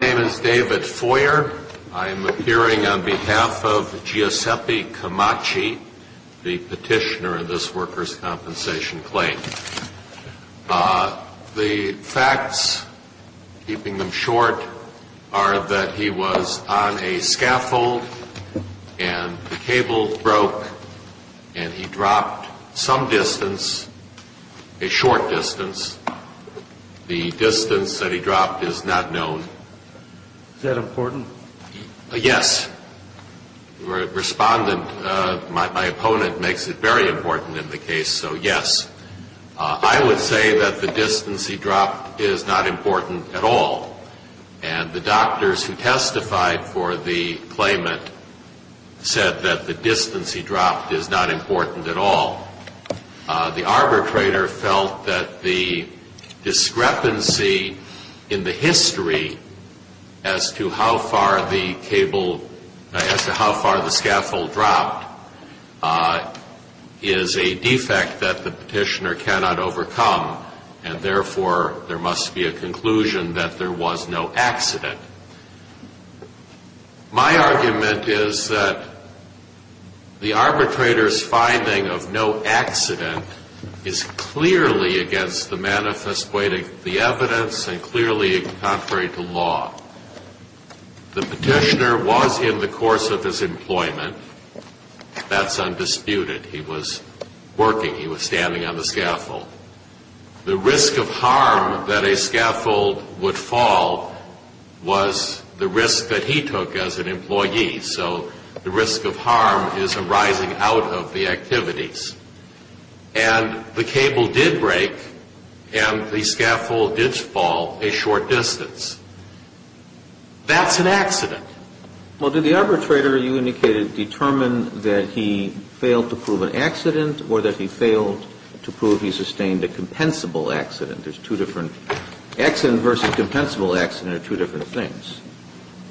My name is David Foyer. I am appearing on behalf of Giuseppe Camaci, the petitioner of this Workers' Compensation claim. The facts, keeping them short, are that he was on a scaffold and the cable broke and he dropped some distance, a short distance. The distance that he dropped is not known. Is that important? Yes. Respondent, my opponent, makes it very important in the case, so yes. I would say that the distance he dropped is not important at all. And the doctors who testified for the claimant said that the distance he dropped is not important at all. The arbitrator felt that the discrepancy in the history as to how far the scaffold dropped is a defect that the petitioner cannot overcome, and therefore there must be a conclusion that there was no accident. My argument is that the arbitrator's finding of no accident is clearly against the manifest way of the evidence and clearly contrary to law. The petitioner was in the course of his employment. That's undisputed. He was working. He was standing on the scaffold. The risk of harm that a scaffold would fall was the risk that he took as an employee. So the risk of harm is arising out of the activities. And the cable did break and the scaffold did fall a short distance. That's an accident. Well, did the arbitrator, you indicated, determine that he failed to prove an accident or that he failed to prove he sustained a compensable accident? There's two different – accident versus compensable accident are two different things.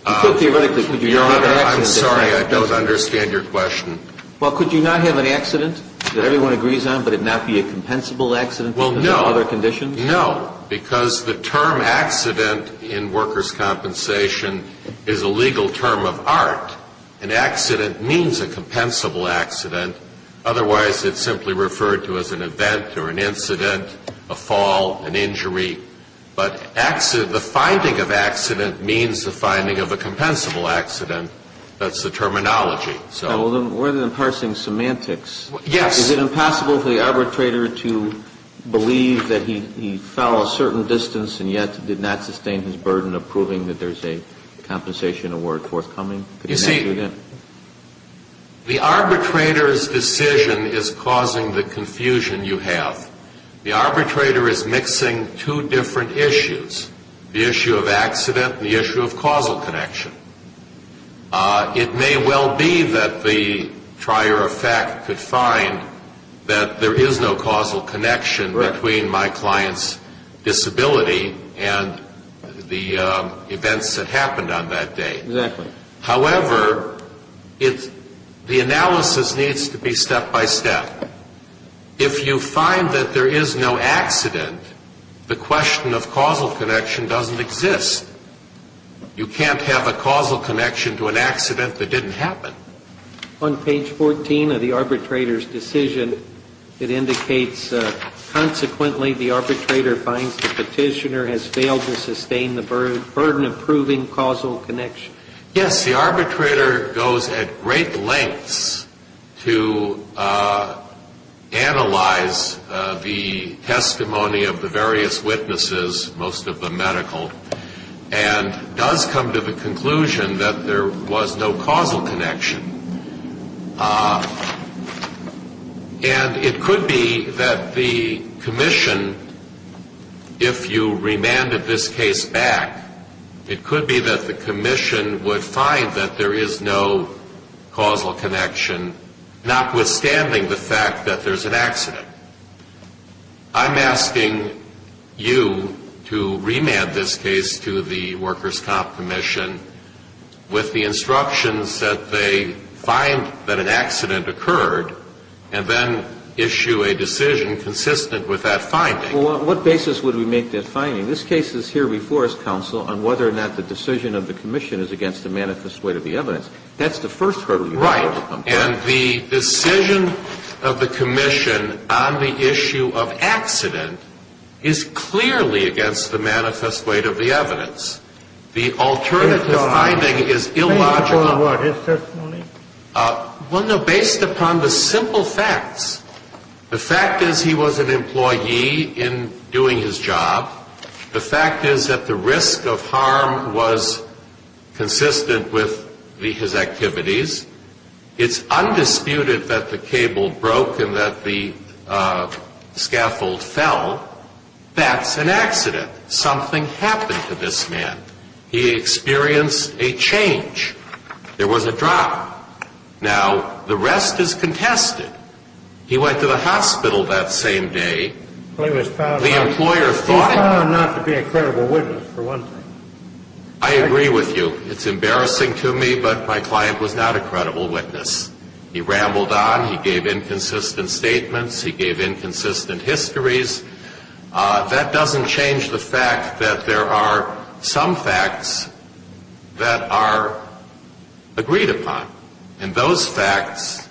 I'm sorry. I don't understand your question. Well, could you not have an accident that everyone agrees on, but it not be a compensable accident under other conditions? No, because the term accident in workers' compensation is a legal term of art. An accident means a compensable accident. Otherwise, it's simply referred to as an event or an incident, a fall, an injury. But the finding of accident means the finding of a compensable accident. That's the terminology. We're then parsing semantics. Yes. Is it impossible for the arbitrator to believe that he fell a certain distance and yet did not sustain his burden of proving that there's a compensation award forthcoming? You see, the arbitrator's decision is causing the confusion you have. The arbitrator is mixing two different issues, the issue of accident and the issue of causal connection. It may well be that the trier of fact could find that there is no causal connection between my client's disability and the events that happened on that day. Exactly. However, the analysis needs to be step by step. If you find that there is no accident, the question of causal connection doesn't exist. You can't have a causal connection to an accident that didn't happen. On page 14 of the arbitrator's decision, it indicates, consequently the arbitrator finds the petitioner has failed to sustain the burden of proving causal connection. Yes, the arbitrator goes at great lengths to analyze the testimony of the various witnesses, most of them medical, and does come to the conclusion that there was no causal connection. And it could be that the commission, if you remanded this case back, it could be that the commission would find that there is no causal connection, notwithstanding the fact that there's an accident. I'm asking you to remand this case to the Workers' Comp Commission with the instructions that they find that an accident occurred and then issue a decision consistent with that finding. Well, on what basis would we make that finding? This case is here before us, counsel, on whether or not the decision of the commission is against the manifest weight of the evidence. That's the first hurdle you're talking about. And the decision of the commission on the issue of accident is clearly against the manifest weight of the evidence. The alternative finding is illogical. Based upon what? His testimony? Well, no, based upon the simple facts. The fact is he was an employee in doing his job. The fact is that the risk of harm was consistent with his activities. It's undisputed that the cable broke and that the scaffold fell. That's an accident. Something happened to this man. He experienced a change. There was a drop. Now, the rest is contested. He went to the hospital that same day. He was found not to be a credible witness, for one thing. I agree with you. It's embarrassing to me, but my client was not a credible witness. He rambled on. He gave inconsistent statements. He gave inconsistent histories. That doesn't change the fact that there are some facts that are agreed upon. And those facts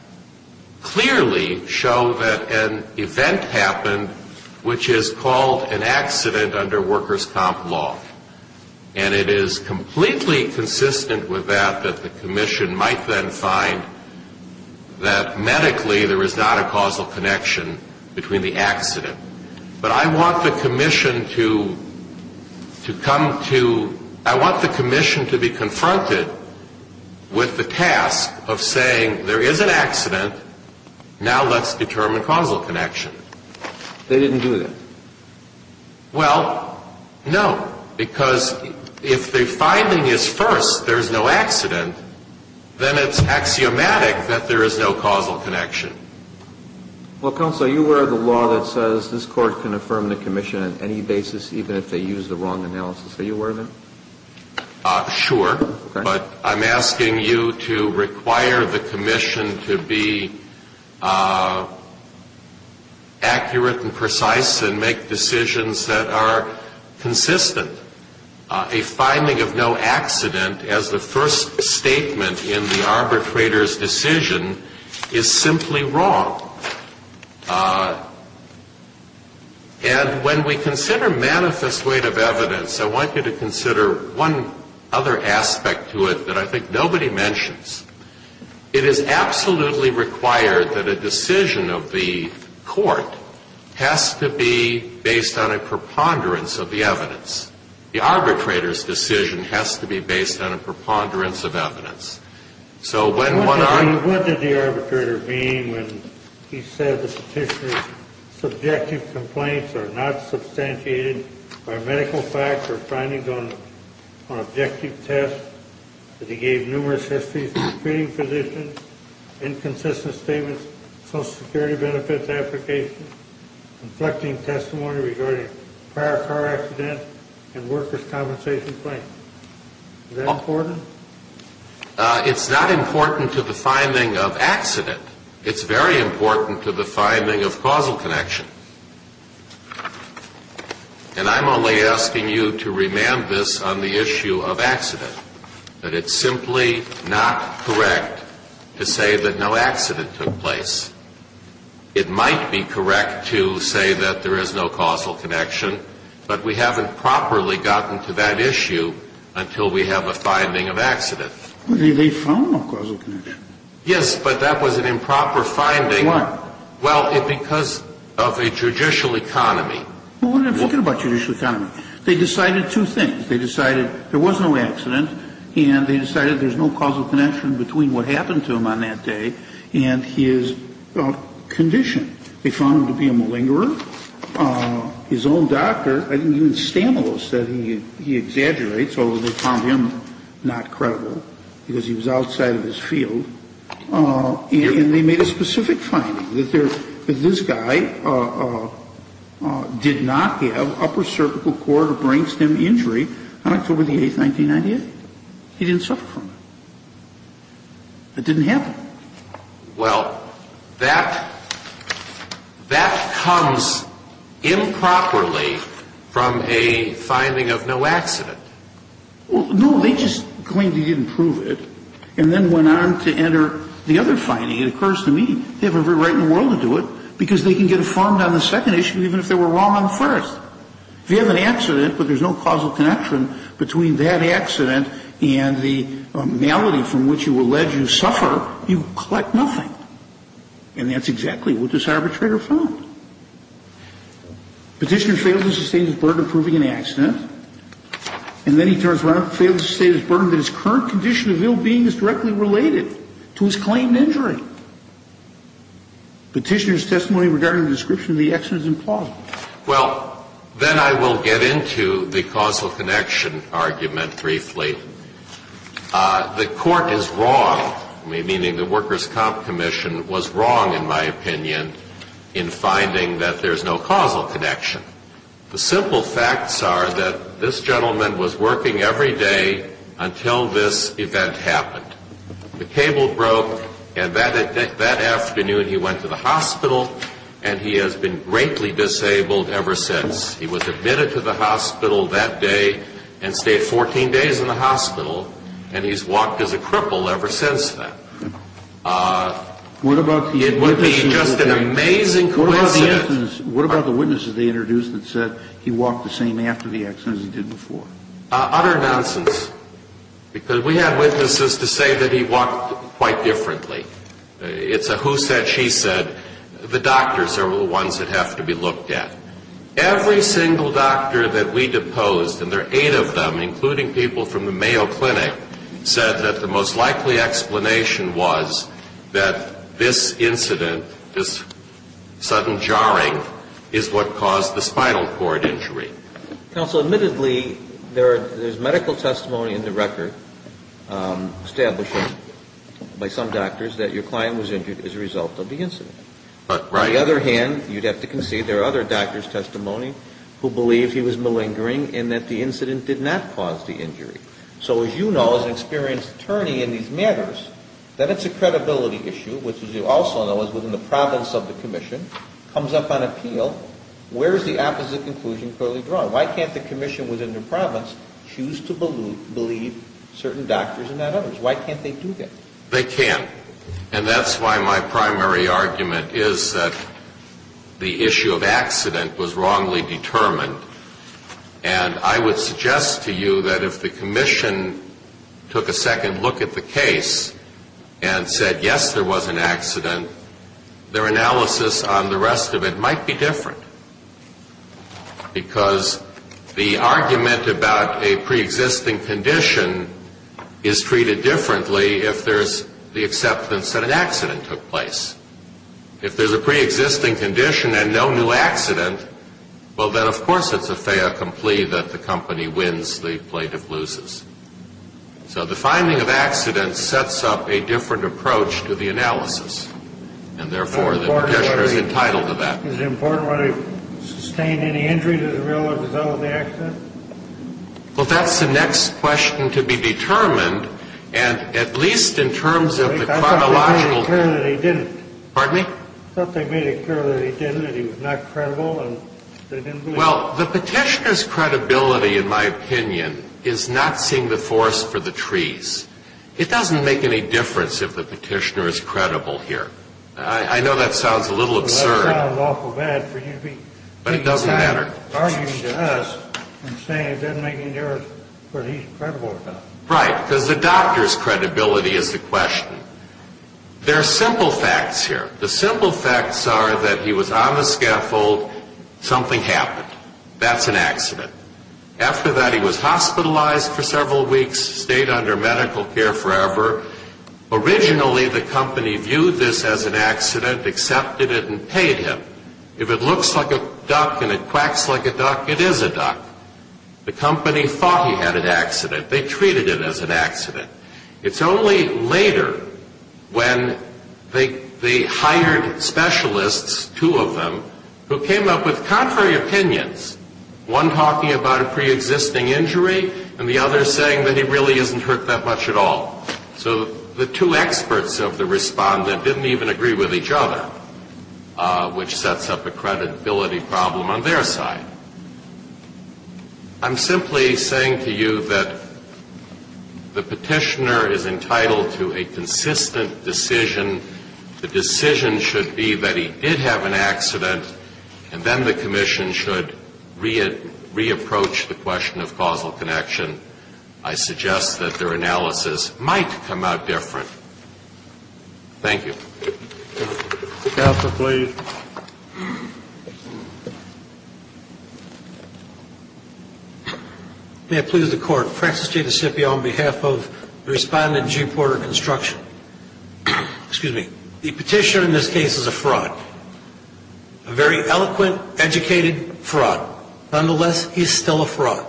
clearly show that an event happened, which is called an accident under workers' comp law. And it is completely consistent with that that the commission might then find that medically there is not a causal connection between the accident. But I want the commission to come to – I want the commission to be confronted with the task of saying there is an accident. Now let's determine causal connection. They didn't do that. Well, no, because if the finding is first there is no accident, then it's axiomatic that there is no causal connection. Well, counsel, you wear the law that says this court can affirm the commission on any basis, even if they use the wrong analysis. Are you aware of that? Sure. But I'm asking you to require the commission to be accurate and precise and make decisions that are consistent. A finding of no accident as the first statement in the arbitrator's decision is simply wrong. And when we consider manifest weight of evidence, I want you to consider one other aspect to it that I think nobody mentions. It is absolutely required that a decision of the court has to be based on a preponderance of the evidence. The arbitrator's decision has to be based on a preponderance of evidence. So when one – What did the arbitrator mean when he said the petitioner's subjective complaints are not substantiated by medical facts or findings on objective tests that he gave numerous histories of treating physicians, inconsistent statements, Social Security benefits applications, conflicting testimony regarding prior car accidents, and workers' compensation claims? Is that important? It's not important to the finding of accident. It's very important to the finding of causal connection. And I'm only asking you to remand this on the issue of accident, that it's simply not correct to say that no accident took place. It might be correct to say that there is no causal connection, but we haven't properly gotten to that issue until we have a finding of accident. But they found no causal connection. Yes, but that was an improper finding. Why? Well, because of a judicial economy. Well, what are they talking about, judicial economy? They decided two things. They decided there was no accident, and they decided there's no causal connection between what happened to him on that day and his condition. They found him to be a malingerer. His own doctor, even Stanlow, said he exaggerates, although they found him not credible because he was outside of his field, and they made a specific finding, that this guy did not have upper cervical cord or brain stem injury on October the 8th, 1998. He didn't suffer from it. That didn't happen. Well, that comes improperly from a finding of no accident. Well, no. They just claimed they didn't prove it and then went on to enter the other finding. It occurs to me they have every right in the world to do it because they can get informed on the second issue even if they were wrong on the first. If you have an accident but there's no causal connection between that accident and the malady from which you allege you suffer, you collect nothing. And that's exactly what this arbitrator found. Petitioner failed to sustain the burden of proving an accident. And then he turns around and fails to sustain the burden that his current condition of ill-being is directly related to his claimed injury. Petitioner's testimony regarding the description of the accident is implausible. Well, then I will get into the causal connection argument briefly. The Court is wrong, meaning the Workers' Comp Commission was wrong, in my opinion, in finding that there's no causal connection. The simple facts are that this gentleman was working every day until this event happened. The cable broke, and that afternoon he went to the hospital, and he has been greatly disabled ever since. He was admitted to the hospital that day and stayed 14 days in the hospital, and he's walked as a cripple ever since then. What about the witnesses? It would be just an amazing coincidence. What about the witnesses they introduced that said he walked the same after the accident as he did before? Utter nonsense, because we had witnesses to say that he walked quite differently. It's a who said, she said. The doctors are the ones that have to be looked at. Every single doctor that we deposed, and there are eight of them, including people from the Mayo Clinic, said that the most likely explanation was that this incident, this sudden jarring is what caused the spinal cord injury. Counsel, admittedly, there's medical testimony in the record establishing by some doctors that your client was injured as a result of the incident. Right. On the other hand, you'd have to concede there are other doctors' testimony who believe he was malingering and that the incident did not cause the injury. So as you know, as an experienced attorney in these matters, that it's a credibility issue, which as you also know is within the province of the commission, comes up on appeal. Where is the opposite conclusion clearly drawn? Why can't the commission within the province choose to believe certain doctors and not others? Why can't they do that? They can't. And that's why my primary argument is that the issue of accident was wrongly determined. And I would suggest to you that if the commission took a second look at the case and said, yes, there was an accident, their analysis on the rest of it might be different. Because the argument about a preexisting condition is treated differently if there's the acceptance that an accident took place. If there's a preexisting condition and no new accident, well, then of course it's a fait accompli that the company wins, the plaintiff loses. So the finding of accident sets up a different approach to the analysis, and therefore the petitioner is entitled to that. Is it important whether he sustained any injury to the real as a result of the accident? Well, that's the next question to be determined. And at least in terms of the chronological. I thought they made it clear that he didn't. Pardon me? I thought they made it clear that he didn't, that he was not credible and they didn't believe. Well, the petitioner's credibility, in my opinion, is not seeing the forest for the trees. It doesn't make any difference if the petitioner is credible here. I know that sounds a little absurd. Well, that sounds awful bad for you to be arguing to us and saying it doesn't make any difference what he's credible about. Right, because the doctor's credibility is the question. There are simple facts here. The simple facts are that he was on a scaffold, something happened. That's an accident. After that, he was hospitalized for several weeks, stayed under medical care forever. Originally, the company viewed this as an accident, accepted it, and paid him. If it looks like a duck and it quacks like a duck, it is a duck. The company thought he had an accident. They treated it as an accident. It's only later when they hired specialists, two of them, who came up with contrary opinions, one talking about a preexisting injury and the other saying that he really isn't hurt that much at all. So the two experts of the respondent didn't even agree with each other, which sets up a credibility problem on their side. I'm simply saying to you that the Petitioner is entitled to a consistent decision. The decision should be that he did have an accident, and then the Commission should re-approach the question of causal connection. I suggest that their analysis might come out different. Thank you. Counsel, please. May it please the Court. Francis J. Nisipio on behalf of the respondent, Jim Porter Construction. Excuse me. The Petitioner in this case is a fraud, a very eloquent, educated fraud. Nonetheless, he is still a fraud.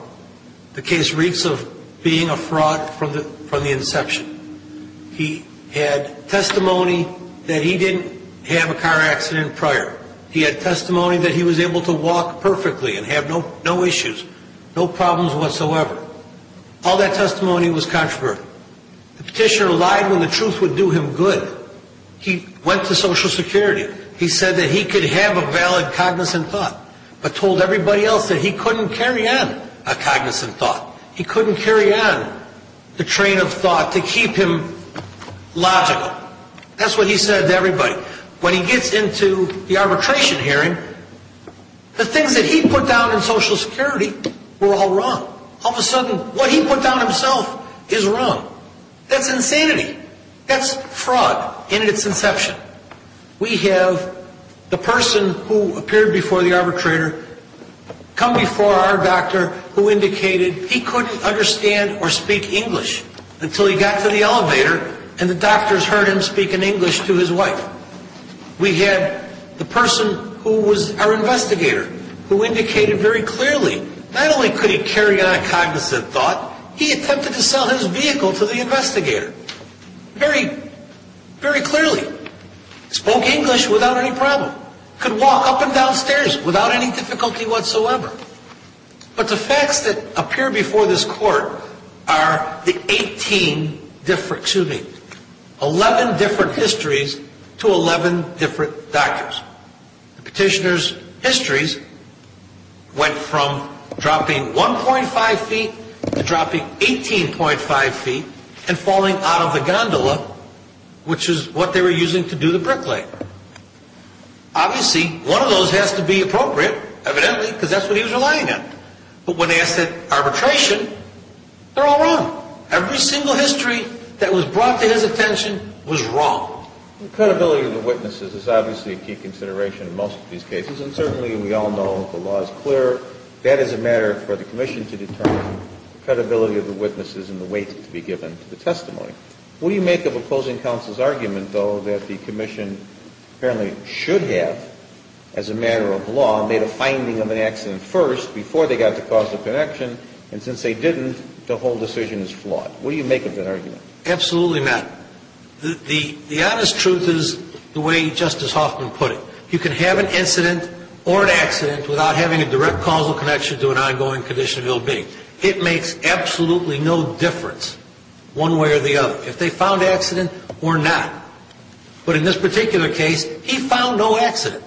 The case reeks of being a fraud from the inception. He had testimony that he didn't have a car accident prior. He had testimony that he was able to walk perfectly and have no issues, no problems whatsoever. All that testimony was controversial. The Petitioner lied when the truth would do him good. He went to Social Security. He said that he could have a valid cognizant thought, but told everybody else that he couldn't carry on a cognizant thought. He couldn't carry on the train of thought to keep him logical. That's what he said to everybody. When he gets into the arbitration hearing, the things that he put down in Social Security were all wrong. All of a sudden, what he put down himself is wrong. That's insanity. That's fraud in its inception. We have the person who appeared before the arbitrator come before our doctor who indicated he couldn't understand or speak English until he got to the elevator and the doctors heard him speak in English to his wife. We have the person who was our investigator who indicated very clearly not only could he carry on a cognizant thought, he attempted to sell his vehicle to the investigator. Very, very clearly. Spoke English without any problem. Could walk up and down stairs without any difficulty whatsoever. But the facts that appear before this court are the 18 different, excuse me, 11 different histories to 11 different documents. Petitioner's histories went from dropping 1.5 feet to dropping 18.5 feet and falling out of the gondola, which is what they were using to do the bricklaying. Obviously, one of those has to be appropriate, evidently, because that's what he was relying on. But when they asked at arbitration, they're all wrong. Every single history that was brought to his attention was wrong. The credibility of the witnesses is obviously a key consideration in most of these cases, and certainly we all know the law is clear. That is a matter for the commission to determine, the credibility of the witnesses and the weight to be given to the testimony. What do you make of opposing counsel's argument, though, that the commission apparently should have, as a matter of law, made a finding of an accident first before they got to cause of connection, and since they didn't, the whole decision is flawed? What do you make of that argument? Absolutely not. The honest truth is the way Justice Hoffman put it. You can have an incident or an accident without having a direct causal connection to an ongoing condition of ill-being. It makes absolutely no difference, one way or the other, if they found an accident or not. But in this particular case, he found no accident.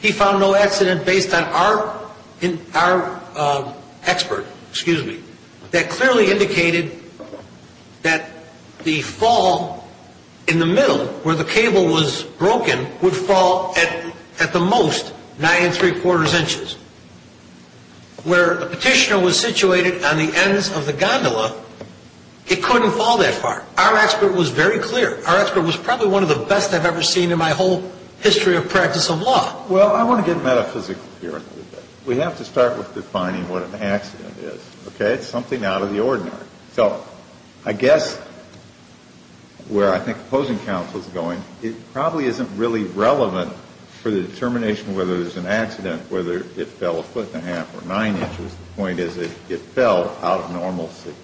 He found no accident based on our expert, excuse me, that clearly indicated that the fall in the middle where the cable was broken would fall at the most nine and three-quarters inches. Where the petitioner was situated on the ends of the gondola, it couldn't fall that far. Our expert was very clear. Our expert was probably one of the best I've ever seen in my whole history of practice of law. Well, I want to get metaphysical here. We have to start with defining what an accident is. Okay? It's something out of the ordinary. So I guess where I think the opposing counsel is going, it probably isn't really relevant for the determination whether it was an accident, whether it fell a foot and a half or nine inches. The point is it fell out of normalcy,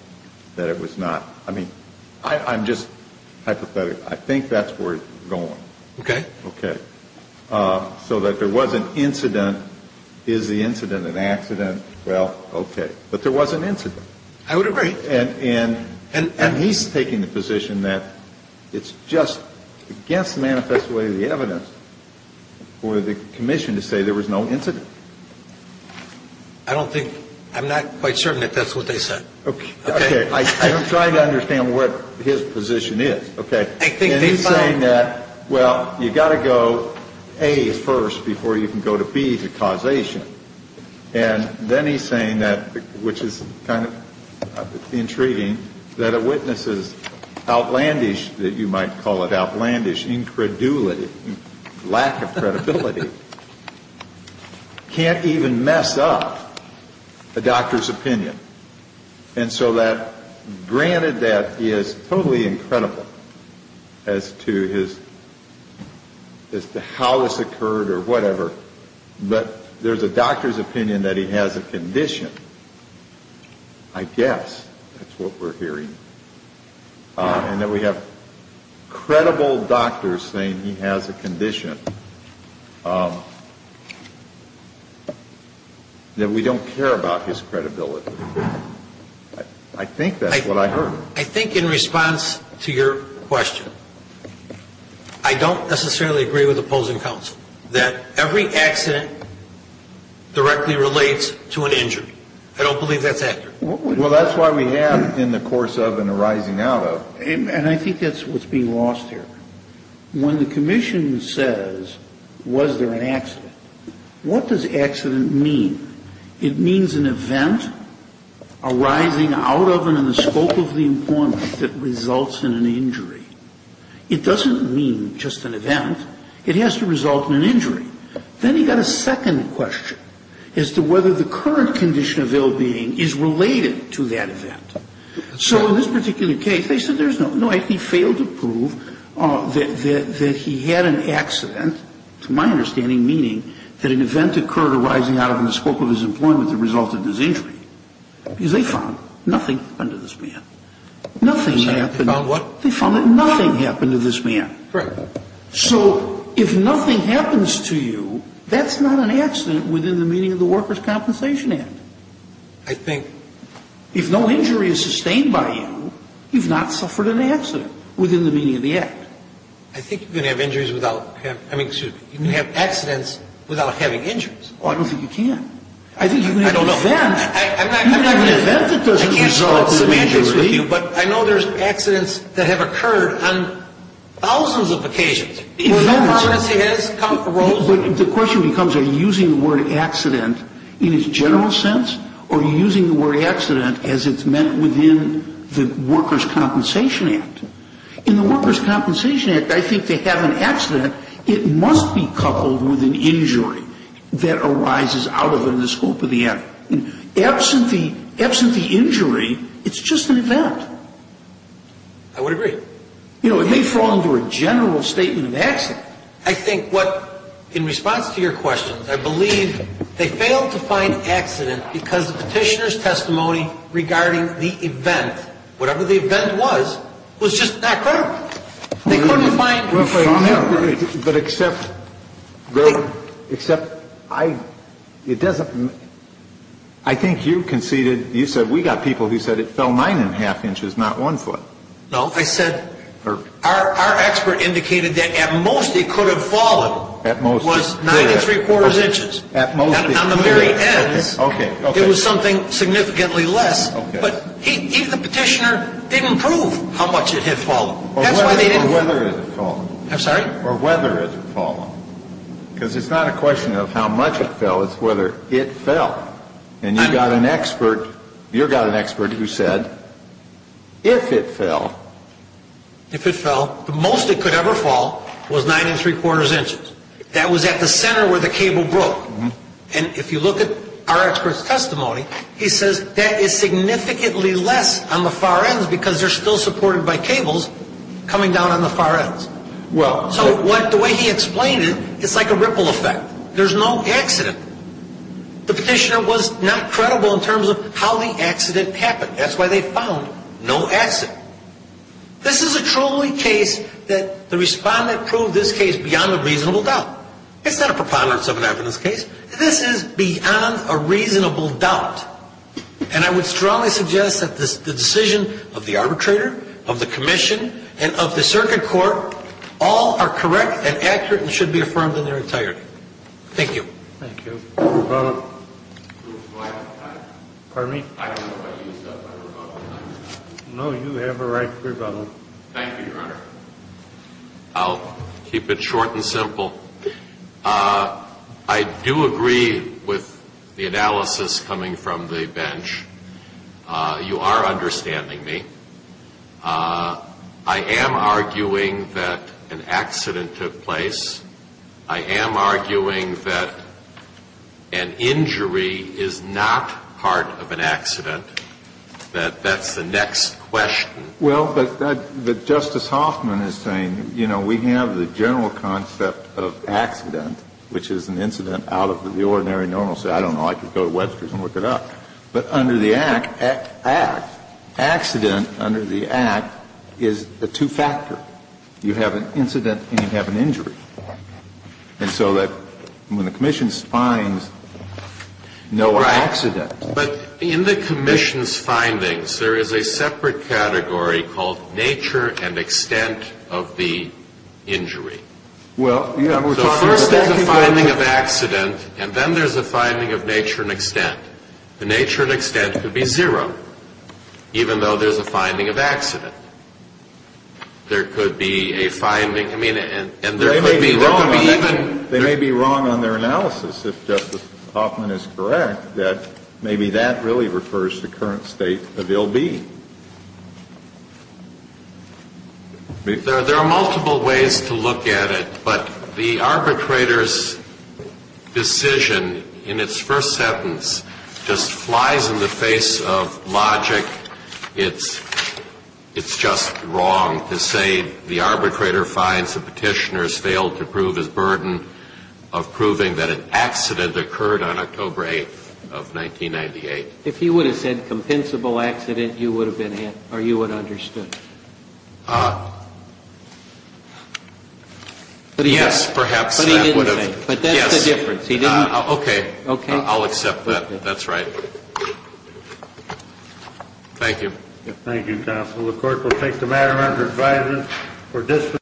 that it was not. I mean, I'm just hypothetical. I think that's where it's going. Okay. Okay. So that there was an incident. Is the incident an accident? Well, okay. But there was an incident. I would agree. And he's taking the position that it's just against the manifest way of the evidence for the commission to say there was no incident. I don't think, I'm not quite certain that that's what they said. Okay. I'm trying to understand what his position is. Okay. And he's saying that, well, you've got to go A first before you can go to B for causation. And then he's saying that, which is kind of intriguing, that a witness's outlandish, that you might call it outlandish, incredulity, lack of credibility, can't even mess up a doctor's opinion. And so that, granted that he is totally incredible as to his, as to how this occurred or whatever, but there's a doctor's opinion that he has a condition, I guess, that's what we're hearing, and that we have credible doctors saying he has a condition, that we don't care about his credibility. I think that's what I heard. I think in response to your question, I don't necessarily agree with opposing counsel, that every accident directly relates to an injury. I don't believe that's accurate. Well, that's why we have in the course of and arising out of. And I think that's what's being lost here. When the commission says, was there an accident, what does accident mean? It means an event arising out of and in the scope of the informant that results in an injury. It doesn't mean just an event. It has to result in an injury. Then you've got a second question as to whether the current condition of ill-being is related to that event. So in this particular case, they said there's no, no, he failed to prove that he had an accident, to my understanding, meaning that an event occurred arising out of and in the scope of his employment that resulted in his injury. Because they found nothing happened to this man. Nothing happened. They found what? They found that nothing happened to this man. Correct. So if nothing happens to you, that's not an accident within the meaning of the Workers' Compensation Act. I think. If no injury is sustained by you, you've not suffered an accident within the meaning of the Act. I think you can have injuries without, I mean, excuse me, you can have accidents without having injuries. Oh, I don't think you can. I don't know. I think you can have an event. I'm not going to. You can have an event that doesn't result in an injury. I can't start semantics with you, but I know there's accidents that have occurred on thousands of occasions. The question becomes are you using the word accident in its general sense, or are you using the word accident as it's meant within the Workers' Compensation Act? In the Workers' Compensation Act, I think to have an accident, it must be coupled with an injury that arises out of it in the scope of the Act. Absent the injury, it's just an event. I would agree. You know, it may fall under a general statement of accident. I think what, in response to your questions, I believe they failed to find accident because the petitioner's testimony regarding the event, whatever the event was, was just not credible. They couldn't find injuries. But except, except I, it doesn't, I think you conceded, you said, we got people who said it fell nine and a half inches, not one foot. No, I said, our expert indicated that at most it could have fallen. At most. Nine and three quarters inches. At most. On the very end, it was something significantly less. Okay. But even the petitioner didn't prove how much it had fallen. That's why they didn't. Or whether it had fallen. I'm sorry? Or whether it had fallen. Because it's not a question of how much it fell, it's whether it fell. And you got an expert, you got an expert who said, if it fell. If it fell, the most it could ever fall was nine and three quarters inches. That was at the center where the cable broke. And if you look at our expert's testimony, he says that is significantly less on the far ends because they're still supported by cables coming down on the far ends. Well. So the way he explained it, it's like a ripple effect. There's no accident. The petitioner was not credible in terms of how the accident happened. That's why they found no accident. This is a truly case that the respondent proved this case beyond a reasonable doubt. It's not a preponderance of an evidence case. This is beyond a reasonable doubt. And I would strongly suggest that the decision of the arbitrator, of the commission, and of the circuit court, all are correct and accurate and should be affirmed in their entirety. Thank you. Thank you. Rebuttal. Pardon me? I don't know what you said, but I rebuttal. No, you have a right to rebuttal. Thank you, Your Honor. I'll keep it short and simple. I do agree with the analysis coming from the bench. You are understanding me. I am arguing that an accident took place. I am arguing that an injury is not part of an accident, that that's the next question. Well, but Justice Hoffman is saying, you know, we have the general concept of accident, which is an incident out of the ordinary normal. So I don't know. I could go to Webster's and look it up. But under the Act, accident under the Act is a two-factor. You have an incident and you have an injury. And so that when the commission finds no accident. Right. But in the commission's findings, there is a separate category called nature and extent of the injury. Well, you know, we're talking about. So first there's a finding of accident, and then there's a finding of nature and extent. The nature and extent could be zero, even though there's a finding of accident. There could be a finding. I mean, and there could be. There could be even. They may be wrong on their analysis, if Justice Hoffman is correct, that maybe that really refers to current state of ill-being. There are multiple ways to look at it, but the arbitrator's decision in its first sentence just flies in the face of logic. It's just wrong to say the arbitrator finds the petitioner's failed to prove his burden of proving that an accident occurred on October 8th of 1998. If he would have said compensable accident, you would have understood. Yes, perhaps. But he didn't say. But that's the difference. He didn't. Okay. I'll accept that. That's right. Thank you. Thank you, counsel. The court will take the matter under advisement for dis-